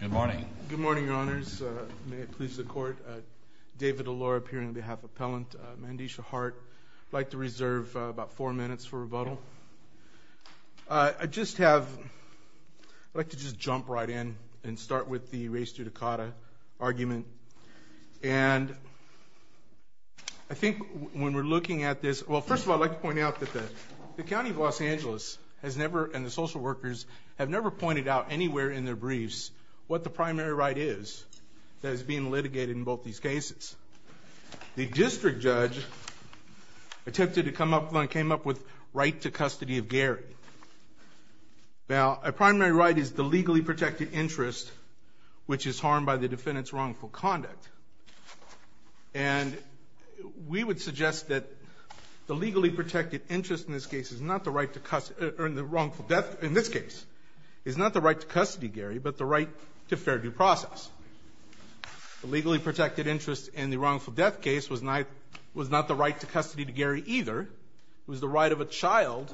Good morning. Good morning, your honors. May it please the court. David Allure, appearing on behalf of Appellant Mandisha Hart. I'd like to reserve about four minutes for rebuttal. I'd just have, I'd like to just jump right in and start with the race to Dakota argument. And I think when we're looking at this, well, first of all, I'd like to point out that the primary right is that is being litigated in both these cases. The district judge attempted to come up with, came up with right to custody of Gary. Now, a primary right is the legally protected interest, which is harmed by the defendant's wrongful conduct. And we would suggest that the legally protected interest in this case is not the right to custody, or in the wrongful death, in this case, is not the right to custody, Gary, but the right to fair due process. The legally protected interest in the wrongful death case was not the right to custody to Gary either. It was the right of a child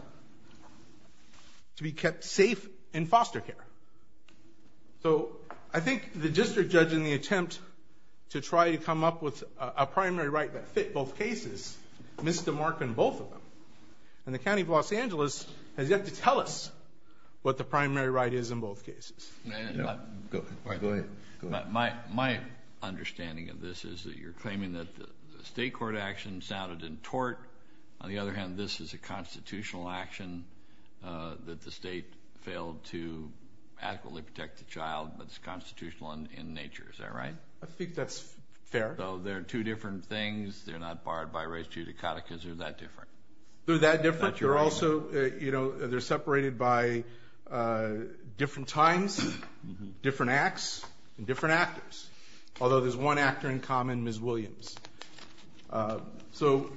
to be kept safe in foster care. So, I think the district judge, in the attempt to try to come up with a primary right that fit both cases, missed the mark in both of them. And the County of Los Angeles has yet to tell us what the primary right is in both cases. My understanding of this is that you're claiming that the state court action sounded in tort. On the other hand, this is a constitutional action that the state failed to adequately protect the child, but it's constitutional in nature. Is that right? I think that's fair. So, they're two different things. They're not barred by res judicata because they're that different. They're separated by different times, different acts, and different actors. Although there's one actor in common, Ms. Williams. So,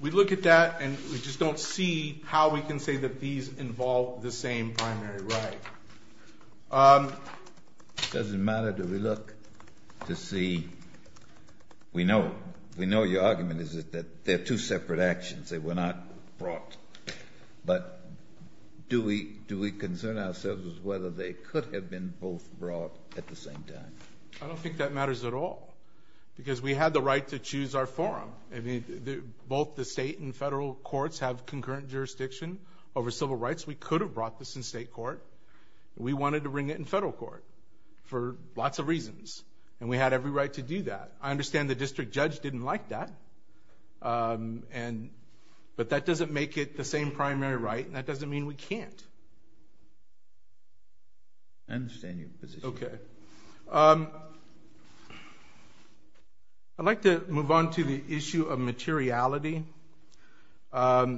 we look at that and we just don't see how we can say that these involve the same primary right. It doesn't matter. Do we look to see? We know your argument is that they're two separate actions. They were not brought. But do we concern ourselves with whether they could have been both brought at the same time? I don't think that matters at all. Because we had the right to choose our forum. Both the state and federal courts have concurrent jurisdiction over civil rights. We could have brought this in state court. We wanted to bring it in federal court for lots of reasons. And we had every right to do that. I understand the district judge didn't like that. But that doesn't make it the same primary right and that doesn't mean we can't. I understand your position. Okay. I'd like to move on to the issue of materiality. There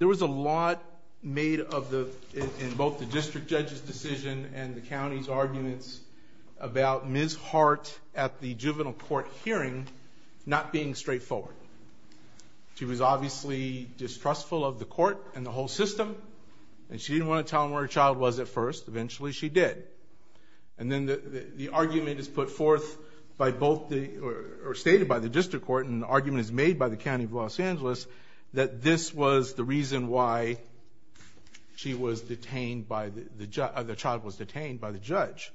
was a lot made in both the district judge's decision and the county's arguments about Ms. Hart at the juvenile court hearing not being straightforward. She was obviously distrustful of the court and the whole system. And she didn't want to tell them where her child was at first. Eventually, she did. And then the argument is put forth or stated by the district court and the argument is made by the county of Los Angeles that this was the reason why the child was detained by the judge.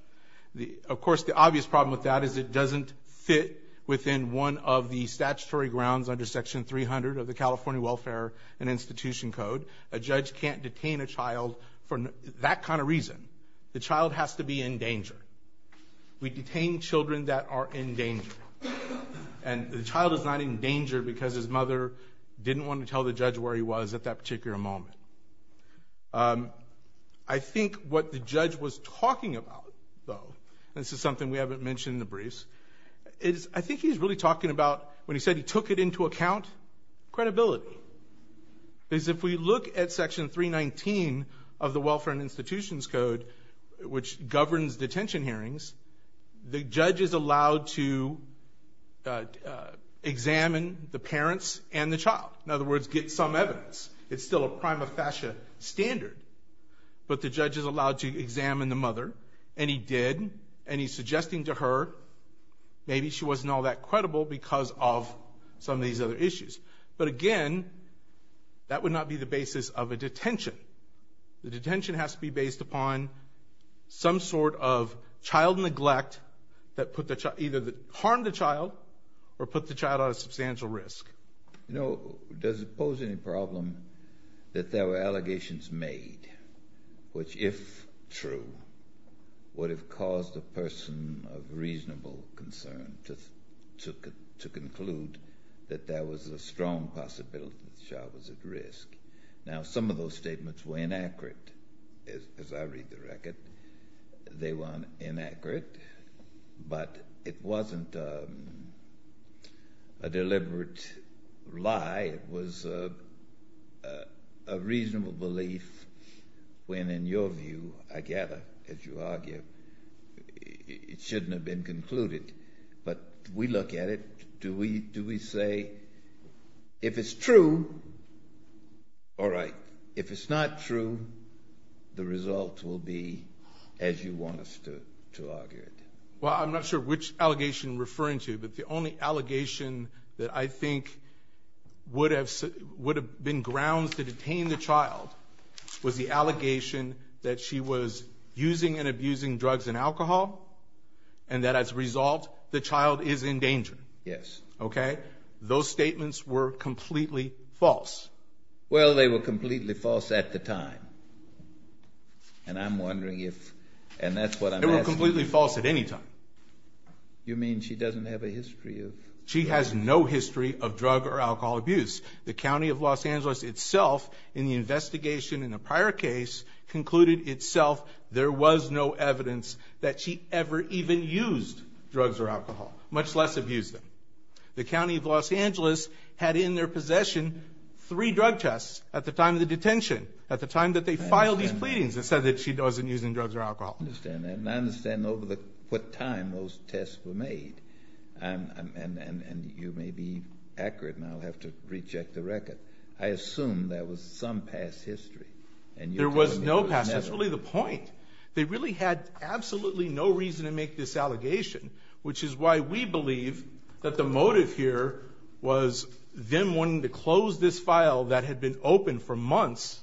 Of course, the obvious problem with that is it doesn't fit within one of the statutory grounds under Section 300 of the California Welfare and Institution Code. A judge can't detain a child for that kind of reason. The child has to be in danger. We detain children that are in danger. And the child is not in danger because his mother didn't want to tell the judge where he was at that particular moment. I think what the judge was talking about, though, and this is something we haven't mentioned in the briefs, is I think he's really talking about, when he said he took it into account, credibility. Because if we look at Section 319 of the Welfare and Institutions Code, which governs detention hearings, the judge is allowed to examine the parents and the child. In other words, get some evidence. It's still a prima facie standard. But the judge is allowed to examine the mother, and he did, and he's suggesting to her maybe she wasn't all that credible because of some of these other issues. But again, that would not be the basis of a detention. The detention has to be based upon some sort of child neglect that harmed the child or put the child at a substantial risk. You know, does it pose any problem that there were allegations made which, if true, would have caused a person of reasonable concern to conclude that there was a strong possibility that the child was at risk? Now, some of those statements were inaccurate, as I read the record. They were inaccurate, but it wasn't a deliberate lie. It was a reasonable belief when, in your view, I gather, as you argue, it shouldn't have been concluded. But we look at it. Do we say, if it's true, all right. If it's not true, the result will be as you want us to argue it? Well, I'm not sure which allegation you're referring to, but the only allegation that I think would have been grounds to detain the child was the allegation that she was using and abusing drugs and alcohol, and that as a result, the child is in danger. Yes. Okay? Those statements were completely false. Well, they were completely false at the time. And I'm wondering if, and that's what I'm asking. They were completely false at any time. You mean she doesn't have a history of... She has no history of drug or alcohol abuse. The county of Los Angeles itself, in the investigation in the prior case, concluded itself there was no evidence that she ever even used drugs or alcohol, much less abused them. The county of Los Angeles had in their possession three drug tests at the time of the detention, at the time that they filed these pleadings, and said that she wasn't using drugs or alcohol. I understand that. And I understand over what time those tests were made. And you may be accurate, and I'll have to recheck the record. I assume there was some past history. There was no past. That's really the point. They really had absolutely no reason to make this allegation, which is why we believe that the motive here was them wanting to close this file that had been open for months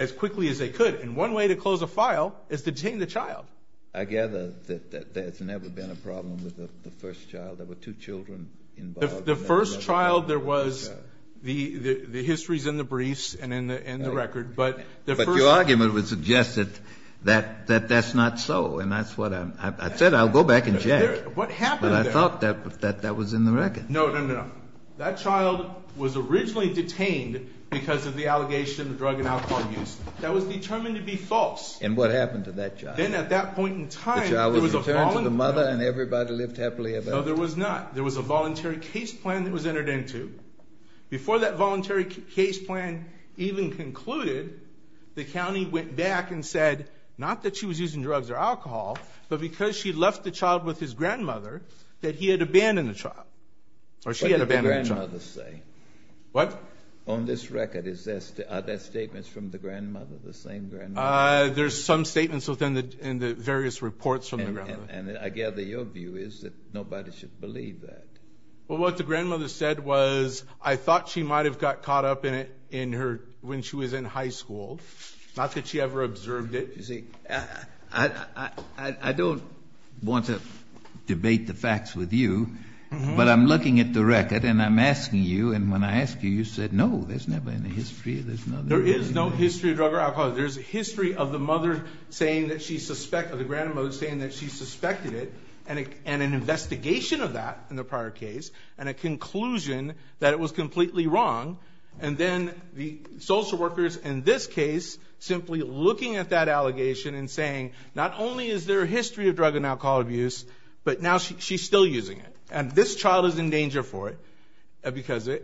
as quickly as they could. And one way to close a file is to detain the child. I gather that there's never been a problem with the first child. There were two children involved. The first child, there was, the history's in the briefs and in the record, but the first... But your argument would suggest that that's not so. And that's what I said. I'll go back and check. What happened there? But I thought that that was in the record. No, no, no. That child was originally detained because of the allegation of drug and alcohol use. That was determined to be false. And what happened to that child? Then at that point in time... The child was returned to the mother, and everybody lived happily ever after. No, there was not. There was a voluntary case plan that was entered into. Before that voluntary case plan even concluded, the county went back and said, not that she was using drugs or alcohol, but because she left the child with his grandmother, that he had abandoned the child. Or she had abandoned the child. What did the grandmother say? What? On this record, are there statements from the grandmother, the same grandmother? There's some statements in the various reports from the grandmother. And I gather your view is that nobody should believe that. Well, what the grandmother said was, I thought she might have got caught up in it when she was in high school. Not that she ever observed it. You see, I don't want to debate the facts with you, but I'm looking at the record, and I'm asking you, and when I ask you, you said, no, there's never any history. There is no history of drug or alcohol. There's a history of the mother saying that she suspected, or the grandmother saying that she suspected it, and an investigation of that in the prior case, and a conclusion that it was completely wrong. And then the social workers in this case, simply looking at that allegation and saying, not only is there a history of drug and alcohol abuse, but now she's still using it. And this child is in danger for it.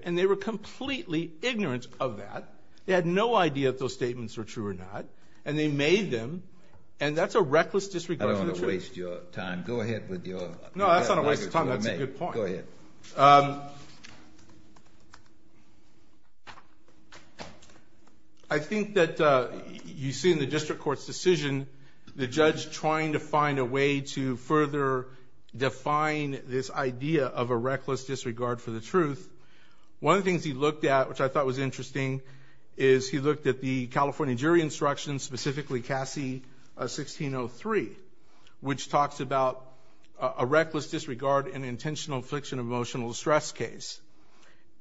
And they were completely ignorant of that. They had no idea if those statements were true or not. And they made them, and that's a reckless disregard for the truth. I don't want to waste your time. Go ahead with your... No, that's not a waste of time. That's a good point. Go ahead. Okay. I think that you see in the district court's decision, the judge trying to find a way to further define this idea of a reckless disregard for the truth. One of the things he looked at, which I thought was interesting, is he looked at the California jury instructions, specifically Cassie 1603, which talks about a reckless disregard in intentional infliction of emotional distress case.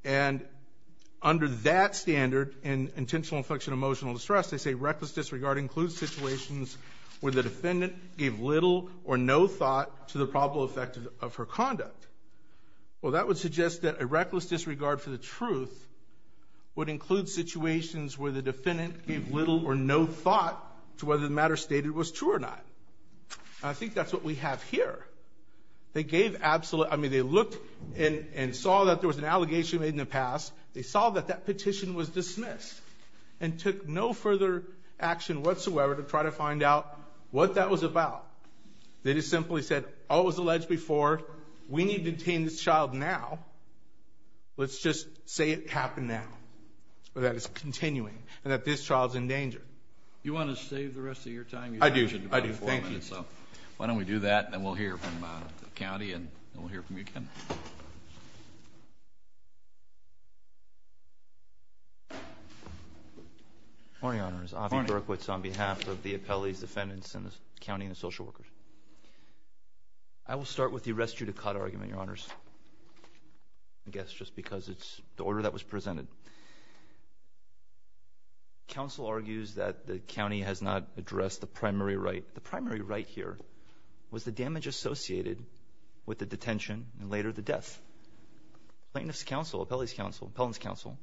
And under that standard, in intentional infliction of emotional distress, they say reckless disregard includes situations where the defendant gave little or no thought to the probable effect of her conduct. Well, that would suggest that a reckless disregard for the truth would include situations where the defendant gave little or no thought to whether the matter stated was true or not. And I think that's what we have here. They gave absolute... I mean, they looked and saw that there was an allegation made in the past. They saw that that petition was dismissed and took no further action whatsoever to try to find out what that was about. They just simply said, oh, it was alleged before. We need to detain this child now. Let's just say it happened now or that it's continuing and that this child's in danger. You want to save the rest of your time? I do. I do. Thank you. Why don't we do that, and then we'll hear from the county, and then we'll hear from you again. Morning, Your Honors. Avi Berkowitz on behalf of the appellees, defendants, and the county and the social workers. I will start with the arrest you to cut argument, Your Honors, I guess, just because it's the order that was presented. Counsel argues that the county has not addressed the primary right. The primary right here was the damage associated with the detention and later the arrest. Plaintiff's counsel, appellee's counsel, appellant's counsel,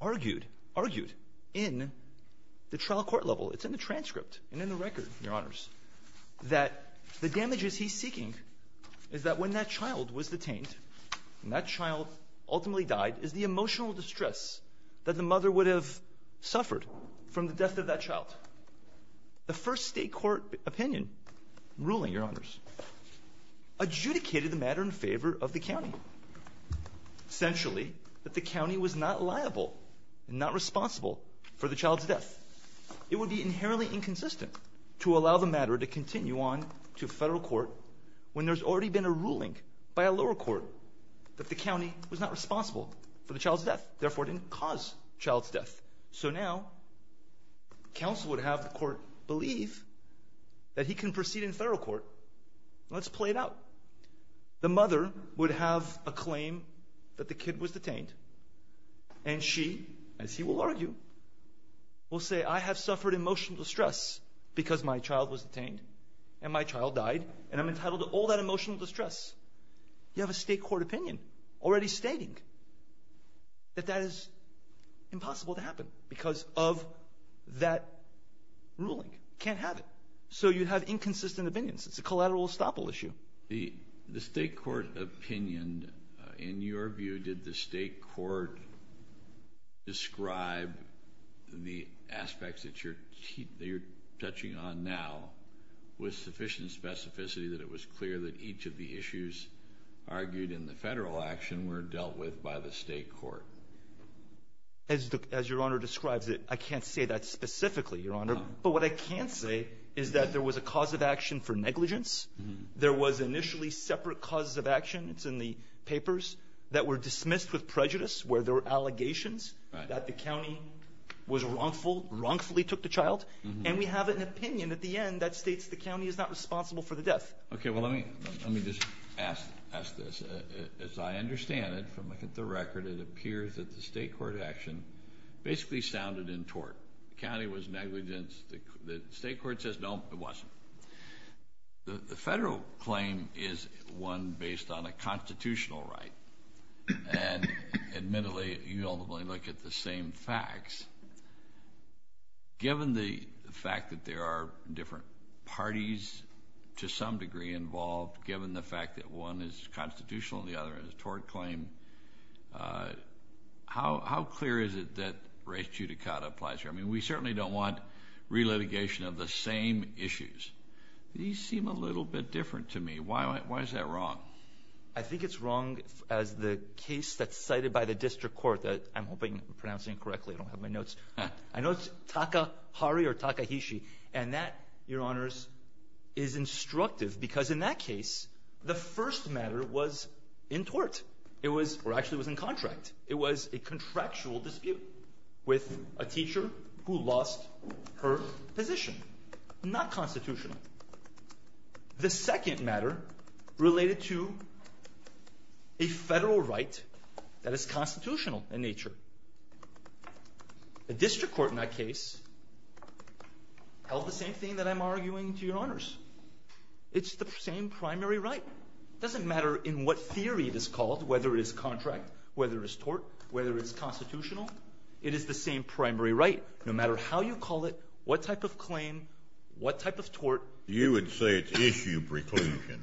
argued in the trial court level. It's in the transcript and in the record, Your Honors, that the damages he's seeking is that when that child was detained and that child ultimately died is the emotional distress that the mother would have suffered from the death of that child. But the first state court opinion ruling, Your Honors, adjudicated the matter in favor of the county. Essentially, that the county was not liable and not responsible for the child's death. It would be inherently inconsistent to allow the matter to continue on to federal court when there's already been a ruling by a lower court that the county was not responsible for the child's death, therefore didn't cause child's death. So now, counsel would have the court believe that he can proceed in federal court. Let's play it out. The mother would have a claim that the kid was detained and she, as he will argue, will say, I have suffered emotional distress because my child was detained and my child died and I'm entitled to all that emotional distress. You have a state court opinion already stating that that is impossible to happen because of that ruling. You can't have it. So you have inconsistent opinions. It's a collateral estoppel issue. The state court opinion, in your view, did the state court describe the aspects that you're touching on now with sufficient specificity that it was clear that each of the issues argued in the federal action were dealt with by the state court? As your honor describes it, I can't say that specifically, your honor. But what I can say is that there was a cause of action for negligence. There was initially separate causes of action in the papers that were dismissed with prejudice where there were allegations that the county was wrongful, wrongfully took the child. And we have an opinion at the end that states the county is not responsible for the death. Okay. Well, let me just ask this. As I understand it, from looking at the record, it appears that the state court action basically sounded in tort. The county was negligent. The state court says, no, it wasn't. The federal claim is one based on a constitutional right. And admittedly, you ultimately look at the same facts. Given the fact that there are different parties to some degree involved, given the fact that one is constitutional and the other is a tort claim, how clear is it that race judicata applies here? I mean, we certainly don't want relitigation of the same issues. These seem a little bit different to me. Why is that wrong? I think it's wrong as the case that's cited by the district court that I'm hoping I'm pronouncing it correctly. I don't have my notes. I know it's Takahari or Takahishi. And that, Your Honors, is instructive because in that case, the first matter was in tort. It was, or actually it was in contract. It was a contractual dispute with a teacher who lost her position. Not constitutional. The second matter related to a federal right that is constitutional in nature. The district court in that case held the same thing that I'm arguing to Your Honors. It's the same primary right. It doesn't matter in what theory it is called, whether it is contract, whether it's tort, whether it's constitutional. It is the same primary right. No matter how you call it, what type of claim, what type of tort. You would say it's issue preclusion.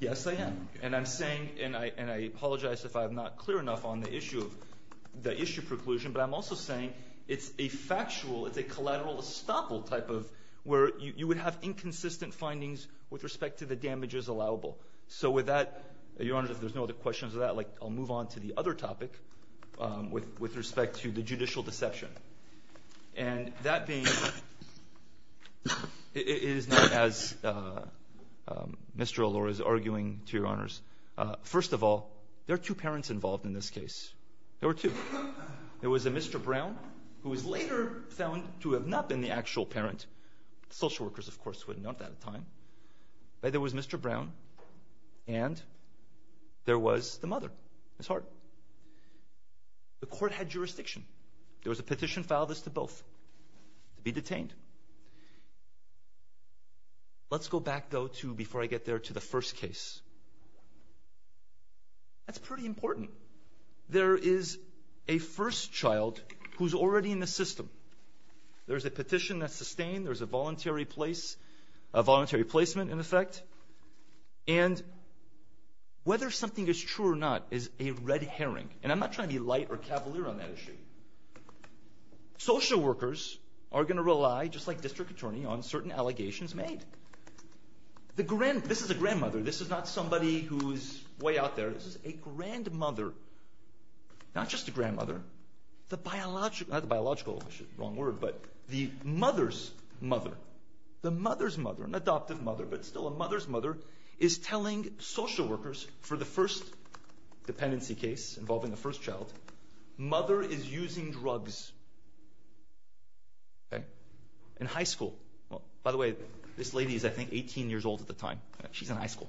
Yes, I am. And I'm saying, and I apologize if I'm not clear enough on the issue preclusion, but I'm also saying it's a factual, it's a collateral estoppel type of where you would have inconsistent findings with respect to the damages allowable. So with that, Your Honors, if there's no other questions of that, I'll move on to the other topic with respect to the judicial deception. And that being, it is not as Mr. Allure is arguing to Your Honors. First of all, there are two parents involved in this case. There were two. There was a Mr. Brown, who was later found to have not been the actual parent. Social workers, of course, would have known that at the time. But there was Mr. Brown, and there was the mother, Ms. Hart. The court had jurisdiction. There was a petition filed as to both to be detained. Let's go back, though, before I get there, to the first case. That's pretty important. There is a first child who's already in the system. There's a petition that's sustained. There's a voluntary placement, in effect. And whether something is true or not is a red herring. And I'm not trying to be light or cavalier on that issue. Social workers are going to rely, just like district attorney, on certain allegations made. This is a grandmother. This is not somebody who's way out there. This is a grandmother. Not just a grandmother. Not the biological, wrong word, but the mother's mother. The mother's mother, an adoptive mother, but still a mother's mother, is telling social workers for the first dependency case involving the first child, mother is using drugs. In high school. By the way, this lady is, I think, 18 years old at the time. She's in high school.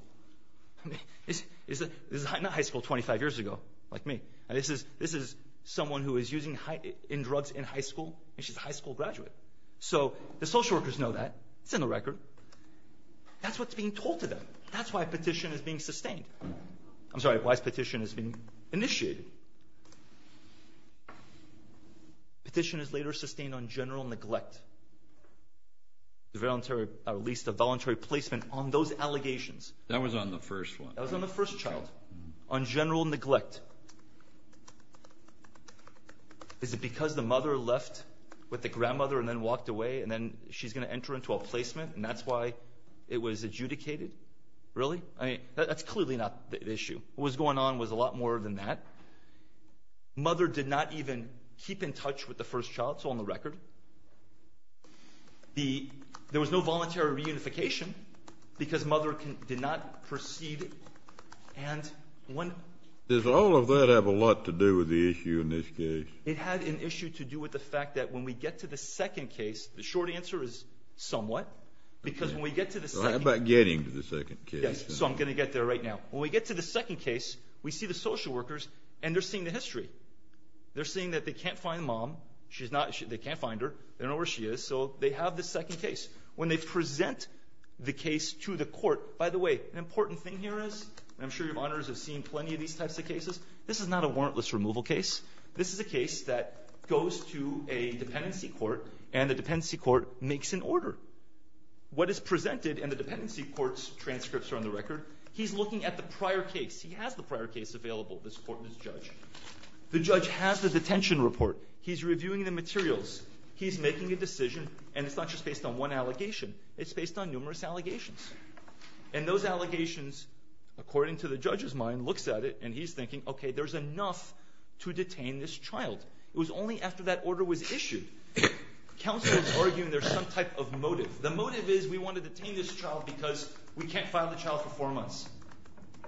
This is not high school 25 years ago, like me. This is someone who is using drugs in high school, and she's a high school graduate. So the social workers know that. It's in the record. That's what's being told to them. That's why petition is being sustained. I'm sorry, why petition is being initiated. Petition is later sustained on general neglect. At least a voluntary placement on those allegations. That was on the first one. That was on the first child. On general neglect. Is it because the mother left with the grandmother and then walked away, and then she's going to enter into a placement, and that's why it was adjudicated? Really? I mean, that's clearly not the issue. What was going on was a lot more than that. Mother did not even keep in touch with the first child. It's all in the record. There was no voluntary reunification because mother did not proceed. Does all of that have a lot to do with the issue in this case? It had an issue to do with the fact that when we get to the second case, the short answer is somewhat, because when we get to the second case. How about getting to the second case? Yes, so I'm going to get there right now. When we get to the second case, we see the social workers, and they're seeing the history. They're seeing that they can't find mom. They can't find her. They don't know where she is, so they have the second case. When they present the case to the court, by the way, an important thing here is, and I'm sure your honors have seen plenty of these types of cases, this is not a warrantless removal case. This is a case that goes to a dependency court, and the dependency court makes an order. What is presented in the dependency court's transcripts are on the record. He's looking at the prior case. He has the prior case available to this court and this judge. The judge has the detention report. He's reviewing the materials. He's making a decision, and it's not just based on one allegation. It's based on numerous allegations, and those allegations, according to the judge's mind, looks at it, and he's thinking, okay, there's enough to detain this child. It was only after that order was issued. Counsel is arguing there's some type of motive. The motive is we want to detain this child because we can't file the child for four months.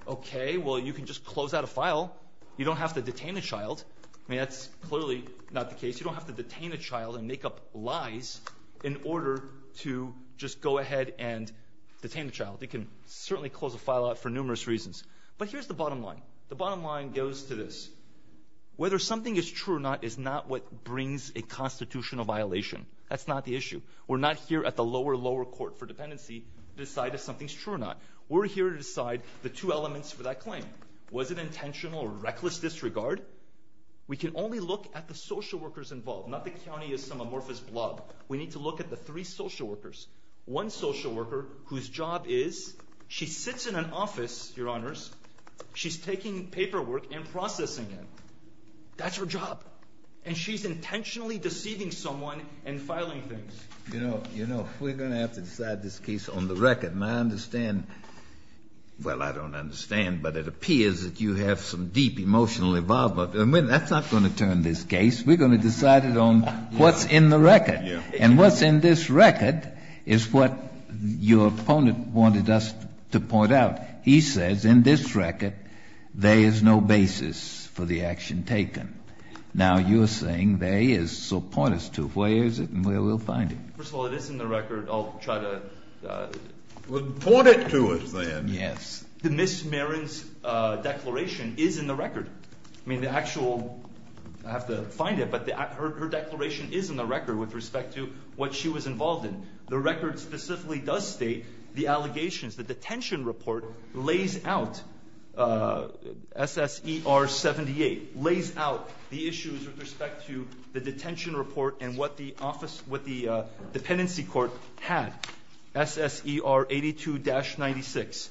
Okay, well, you can just close out a file. You don't have to detain a child. I mean, that's clearly not the case. You don't have to detain a child and make up lies in order to just go ahead and detain a child. You can certainly close a file out for numerous reasons. But here's the bottom line. The bottom line goes to this. Whether something is true or not is not what brings a constitutional violation. That's not the issue. We're not here at the lower, lower court for dependency to decide if something's true or not. We're here to decide the two elements for that claim. Was it intentional or reckless disregard? We can only look at the social workers involved, not the county of some amorphous blob. We need to look at the three social workers. One social worker whose job is she sits in an office, Your Honors. She's taking paperwork and processing it. That's her job. And she's intentionally deceiving someone and filing things. You know, we're going to have to decide this case on the record. And I understand, well, I don't understand, but it appears that you have some deep emotional involvement. That's not going to turn this case. We're going to decide it on what's in the record. And what's in this record is what your opponent wanted us to point out. He says in this record there is no basis for the action taken. Now you're saying there is. So point us to where is it and where we'll find it. First of all, it is in the record. I'll try to. Report it to us then. Yes. Ms. Marin's declaration is in the record. I mean, the actual, I'll have to find it, but her declaration is in the record with respect to what she was involved in. The record specifically does state the allegations, the detention report lays out, SSER 78, lays out the issues with respect to the detention report and what the office, what the dependency court had. SSER 82-96,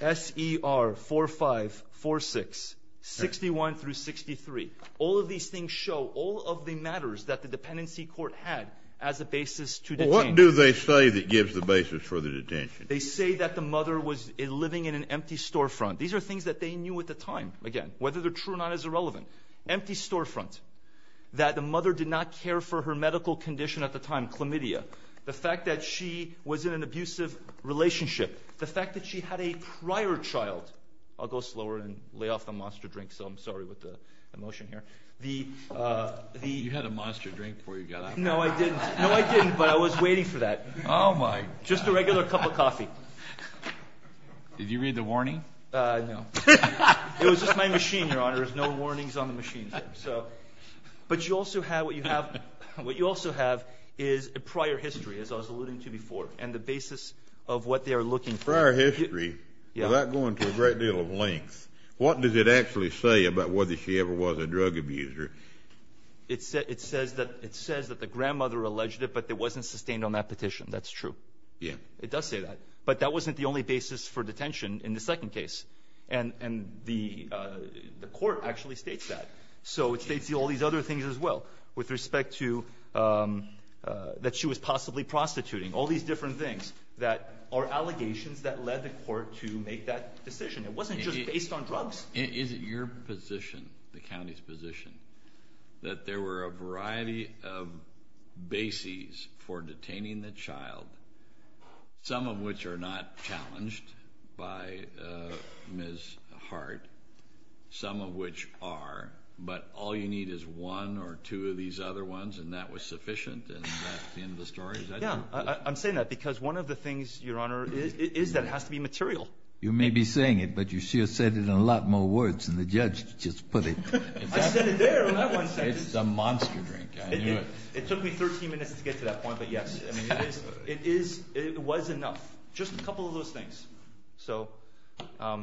SER 4546, 61 through 63. All of these things show, all of the matters that the dependency court had as a basis to detain. Well, what do they say that gives the basis for the detention? They say that the mother was living in an empty storefront. These are things that they knew at the time, again, whether they're true or not is irrelevant. Empty storefront. That the mother did not care for her medical condition at the time, chlamydia. The fact that she was in an abusive relationship. The fact that she had a prior child. I'll go slower and lay off the monster drink, so I'm sorry with the emotion here. You had a monster drink before you got out. No, I didn't. No, I didn't, but I was waiting for that. Oh, my. Just a regular cup of coffee. Did you read the warning? No. It was just my machine, Your Honor. There's no warnings on the machine. But you also have what you have, what you also have is a prior history, as I was alluding to before, and the basis of what they are looking for. Prior history without going to a great deal of length. What does it actually say about whether she ever was a drug abuser? It says that the grandmother alleged it, but it wasn't sustained on that petition. That's true. Yeah. It does say that, but that wasn't the only basis for detention in the second case, and the court actually states that. So it states all these other things as well with respect to that she was possibly prostituting, all these different things that are allegations that led the court to make that decision. It wasn't just based on drugs. Is it your position, the county's position, that there were a variety of bases for detaining the child, some of which are not challenged by Ms. Hart, some of which are, but all you need is one or two of these other ones, and that was sufficient, and that's the end of the story? Yeah, I'm saying that because one of the things, Your Honor, is that it has to be material. You may be saying it, but you sure said it in a lot more words than the judge just put it. I said it there. It's a monster drink. I knew it. It took me 13 minutes to get to that point, but, yes, it was enough. Just a couple of those things. So I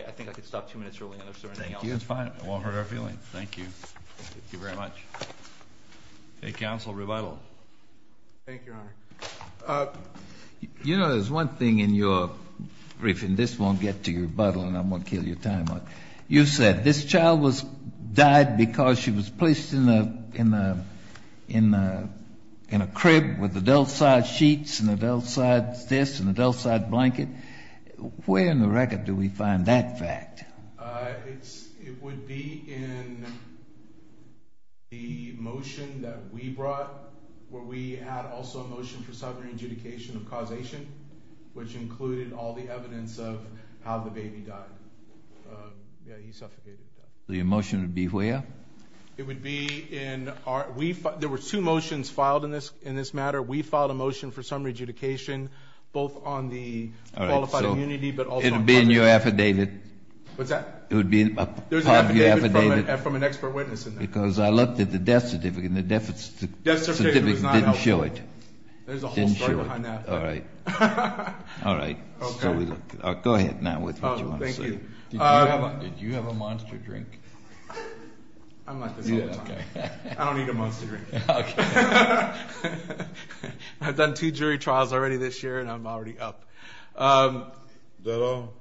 think I could stop two minutes early on if there's anything else. Thank you. It's fine. It won't hurt our feelings. Thank you. Thank you very much. Any counsel rebuttal? Thank you, Your Honor. You know, there's one thing in your briefing. This won't get to your rebuttal, and I'm going to kill your time on it. You said this child died because she was placed in a crib with adult-sized sheets and adult-sized this and adult-sized blanket. Where in the record do we find that fact? It would be in the motion that we brought where we had also a motion for summary adjudication of causation, which included all the evidence of how the baby died. Yeah, he suffocated to death. The motion would be where? It would be in our ‑‑ there were two motions filed in this matter. We filed a motion for summary adjudication both on the qualified immunity but also on ‑‑ It would be in your affidavit. What's that? It would be in your affidavit. There's an affidavit from an expert witness in there. Because I looked at the death certificate, and the death certificate didn't show it. There's a whole story behind that. All right. All right. Okay. Go ahead now with what you want to say. Thank you. Did you have a monster drink? I'm like this all the time. Yeah, okay. I don't need a monster drink. Okay. I've done two jury trials already this year, and I'm already up. Is that all?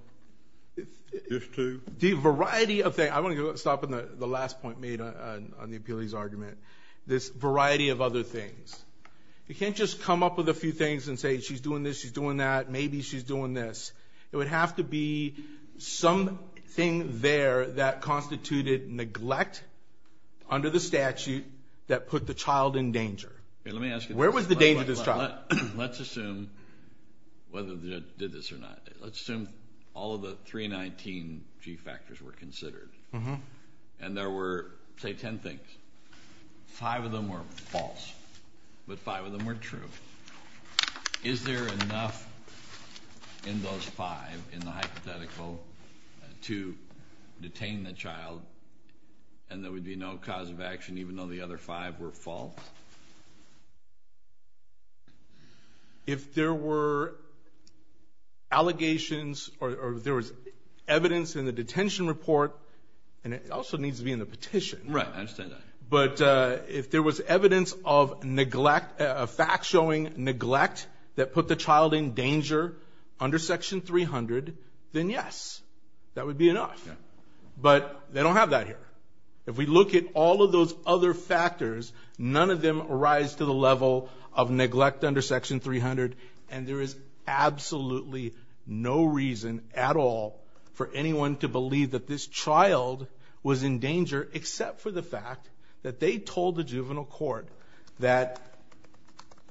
Just two? A variety of things. I want to stop at the last point made on the appeals argument. This variety of other things. You can't just come up with a few things and say she's doing this, she's doing that. Maybe she's doing this. It would have to be something there that constituted neglect under the statute that put the child in danger. Let me ask you this. Where was the danger to this child? Let's assume whether they did this or not. Let's assume all of the 319 G factors were considered. And there were, say, ten things. Five of them were false, but five of them were true. Is there enough in those five in the hypothetical to detain the child and there would be no cause of action even though the other five were false? If there were allegations or if there was evidence in the detention report, and it also needs to be in the petition. Right. I understand that. But if there was evidence of neglect, a fact-showing neglect that put the child in danger under Section 300, then yes. That would be enough. But they don't have that here. If we look at all of those other factors, none of them rise to the level of neglect under Section 300. And there is absolutely no reason at all for anyone to believe that this child was in danger, except for the fact that they told the juvenile court that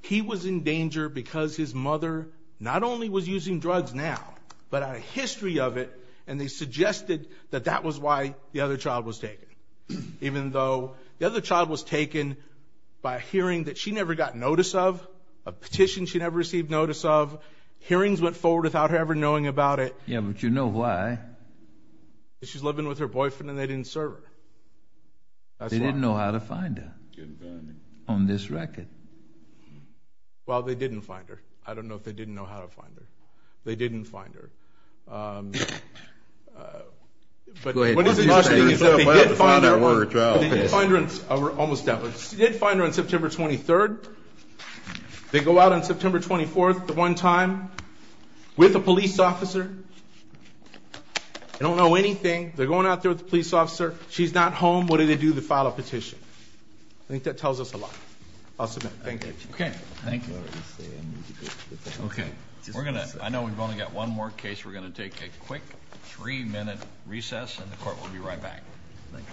he was in danger because his mother not only was using drugs now, but had a history of it, and they suggested that that was why the other child was taken. Even though the other child was taken by a hearing that she never got notice of, a petition she never received notice of, hearings went forward without her ever knowing about it. Yeah, but you know why. Because she's living with her boyfriend and they didn't serve her. They didn't know how to find her on this record. Well, they didn't find her. I don't know if they didn't know how to find her. They didn't find her. But what is interesting is that they did find her on September 23rd. They go out on September 24th at the one time with a police officer. They don't know anything. They're going out there with the police officer. She's not home. What do they do? They file a petition. I think that tells us a lot. I'll submit. Thank you. Okay. Thank you. Okay. I know we've only got one more case. We're going to take a quick three-minute recess and the court will be right back. Thank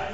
you.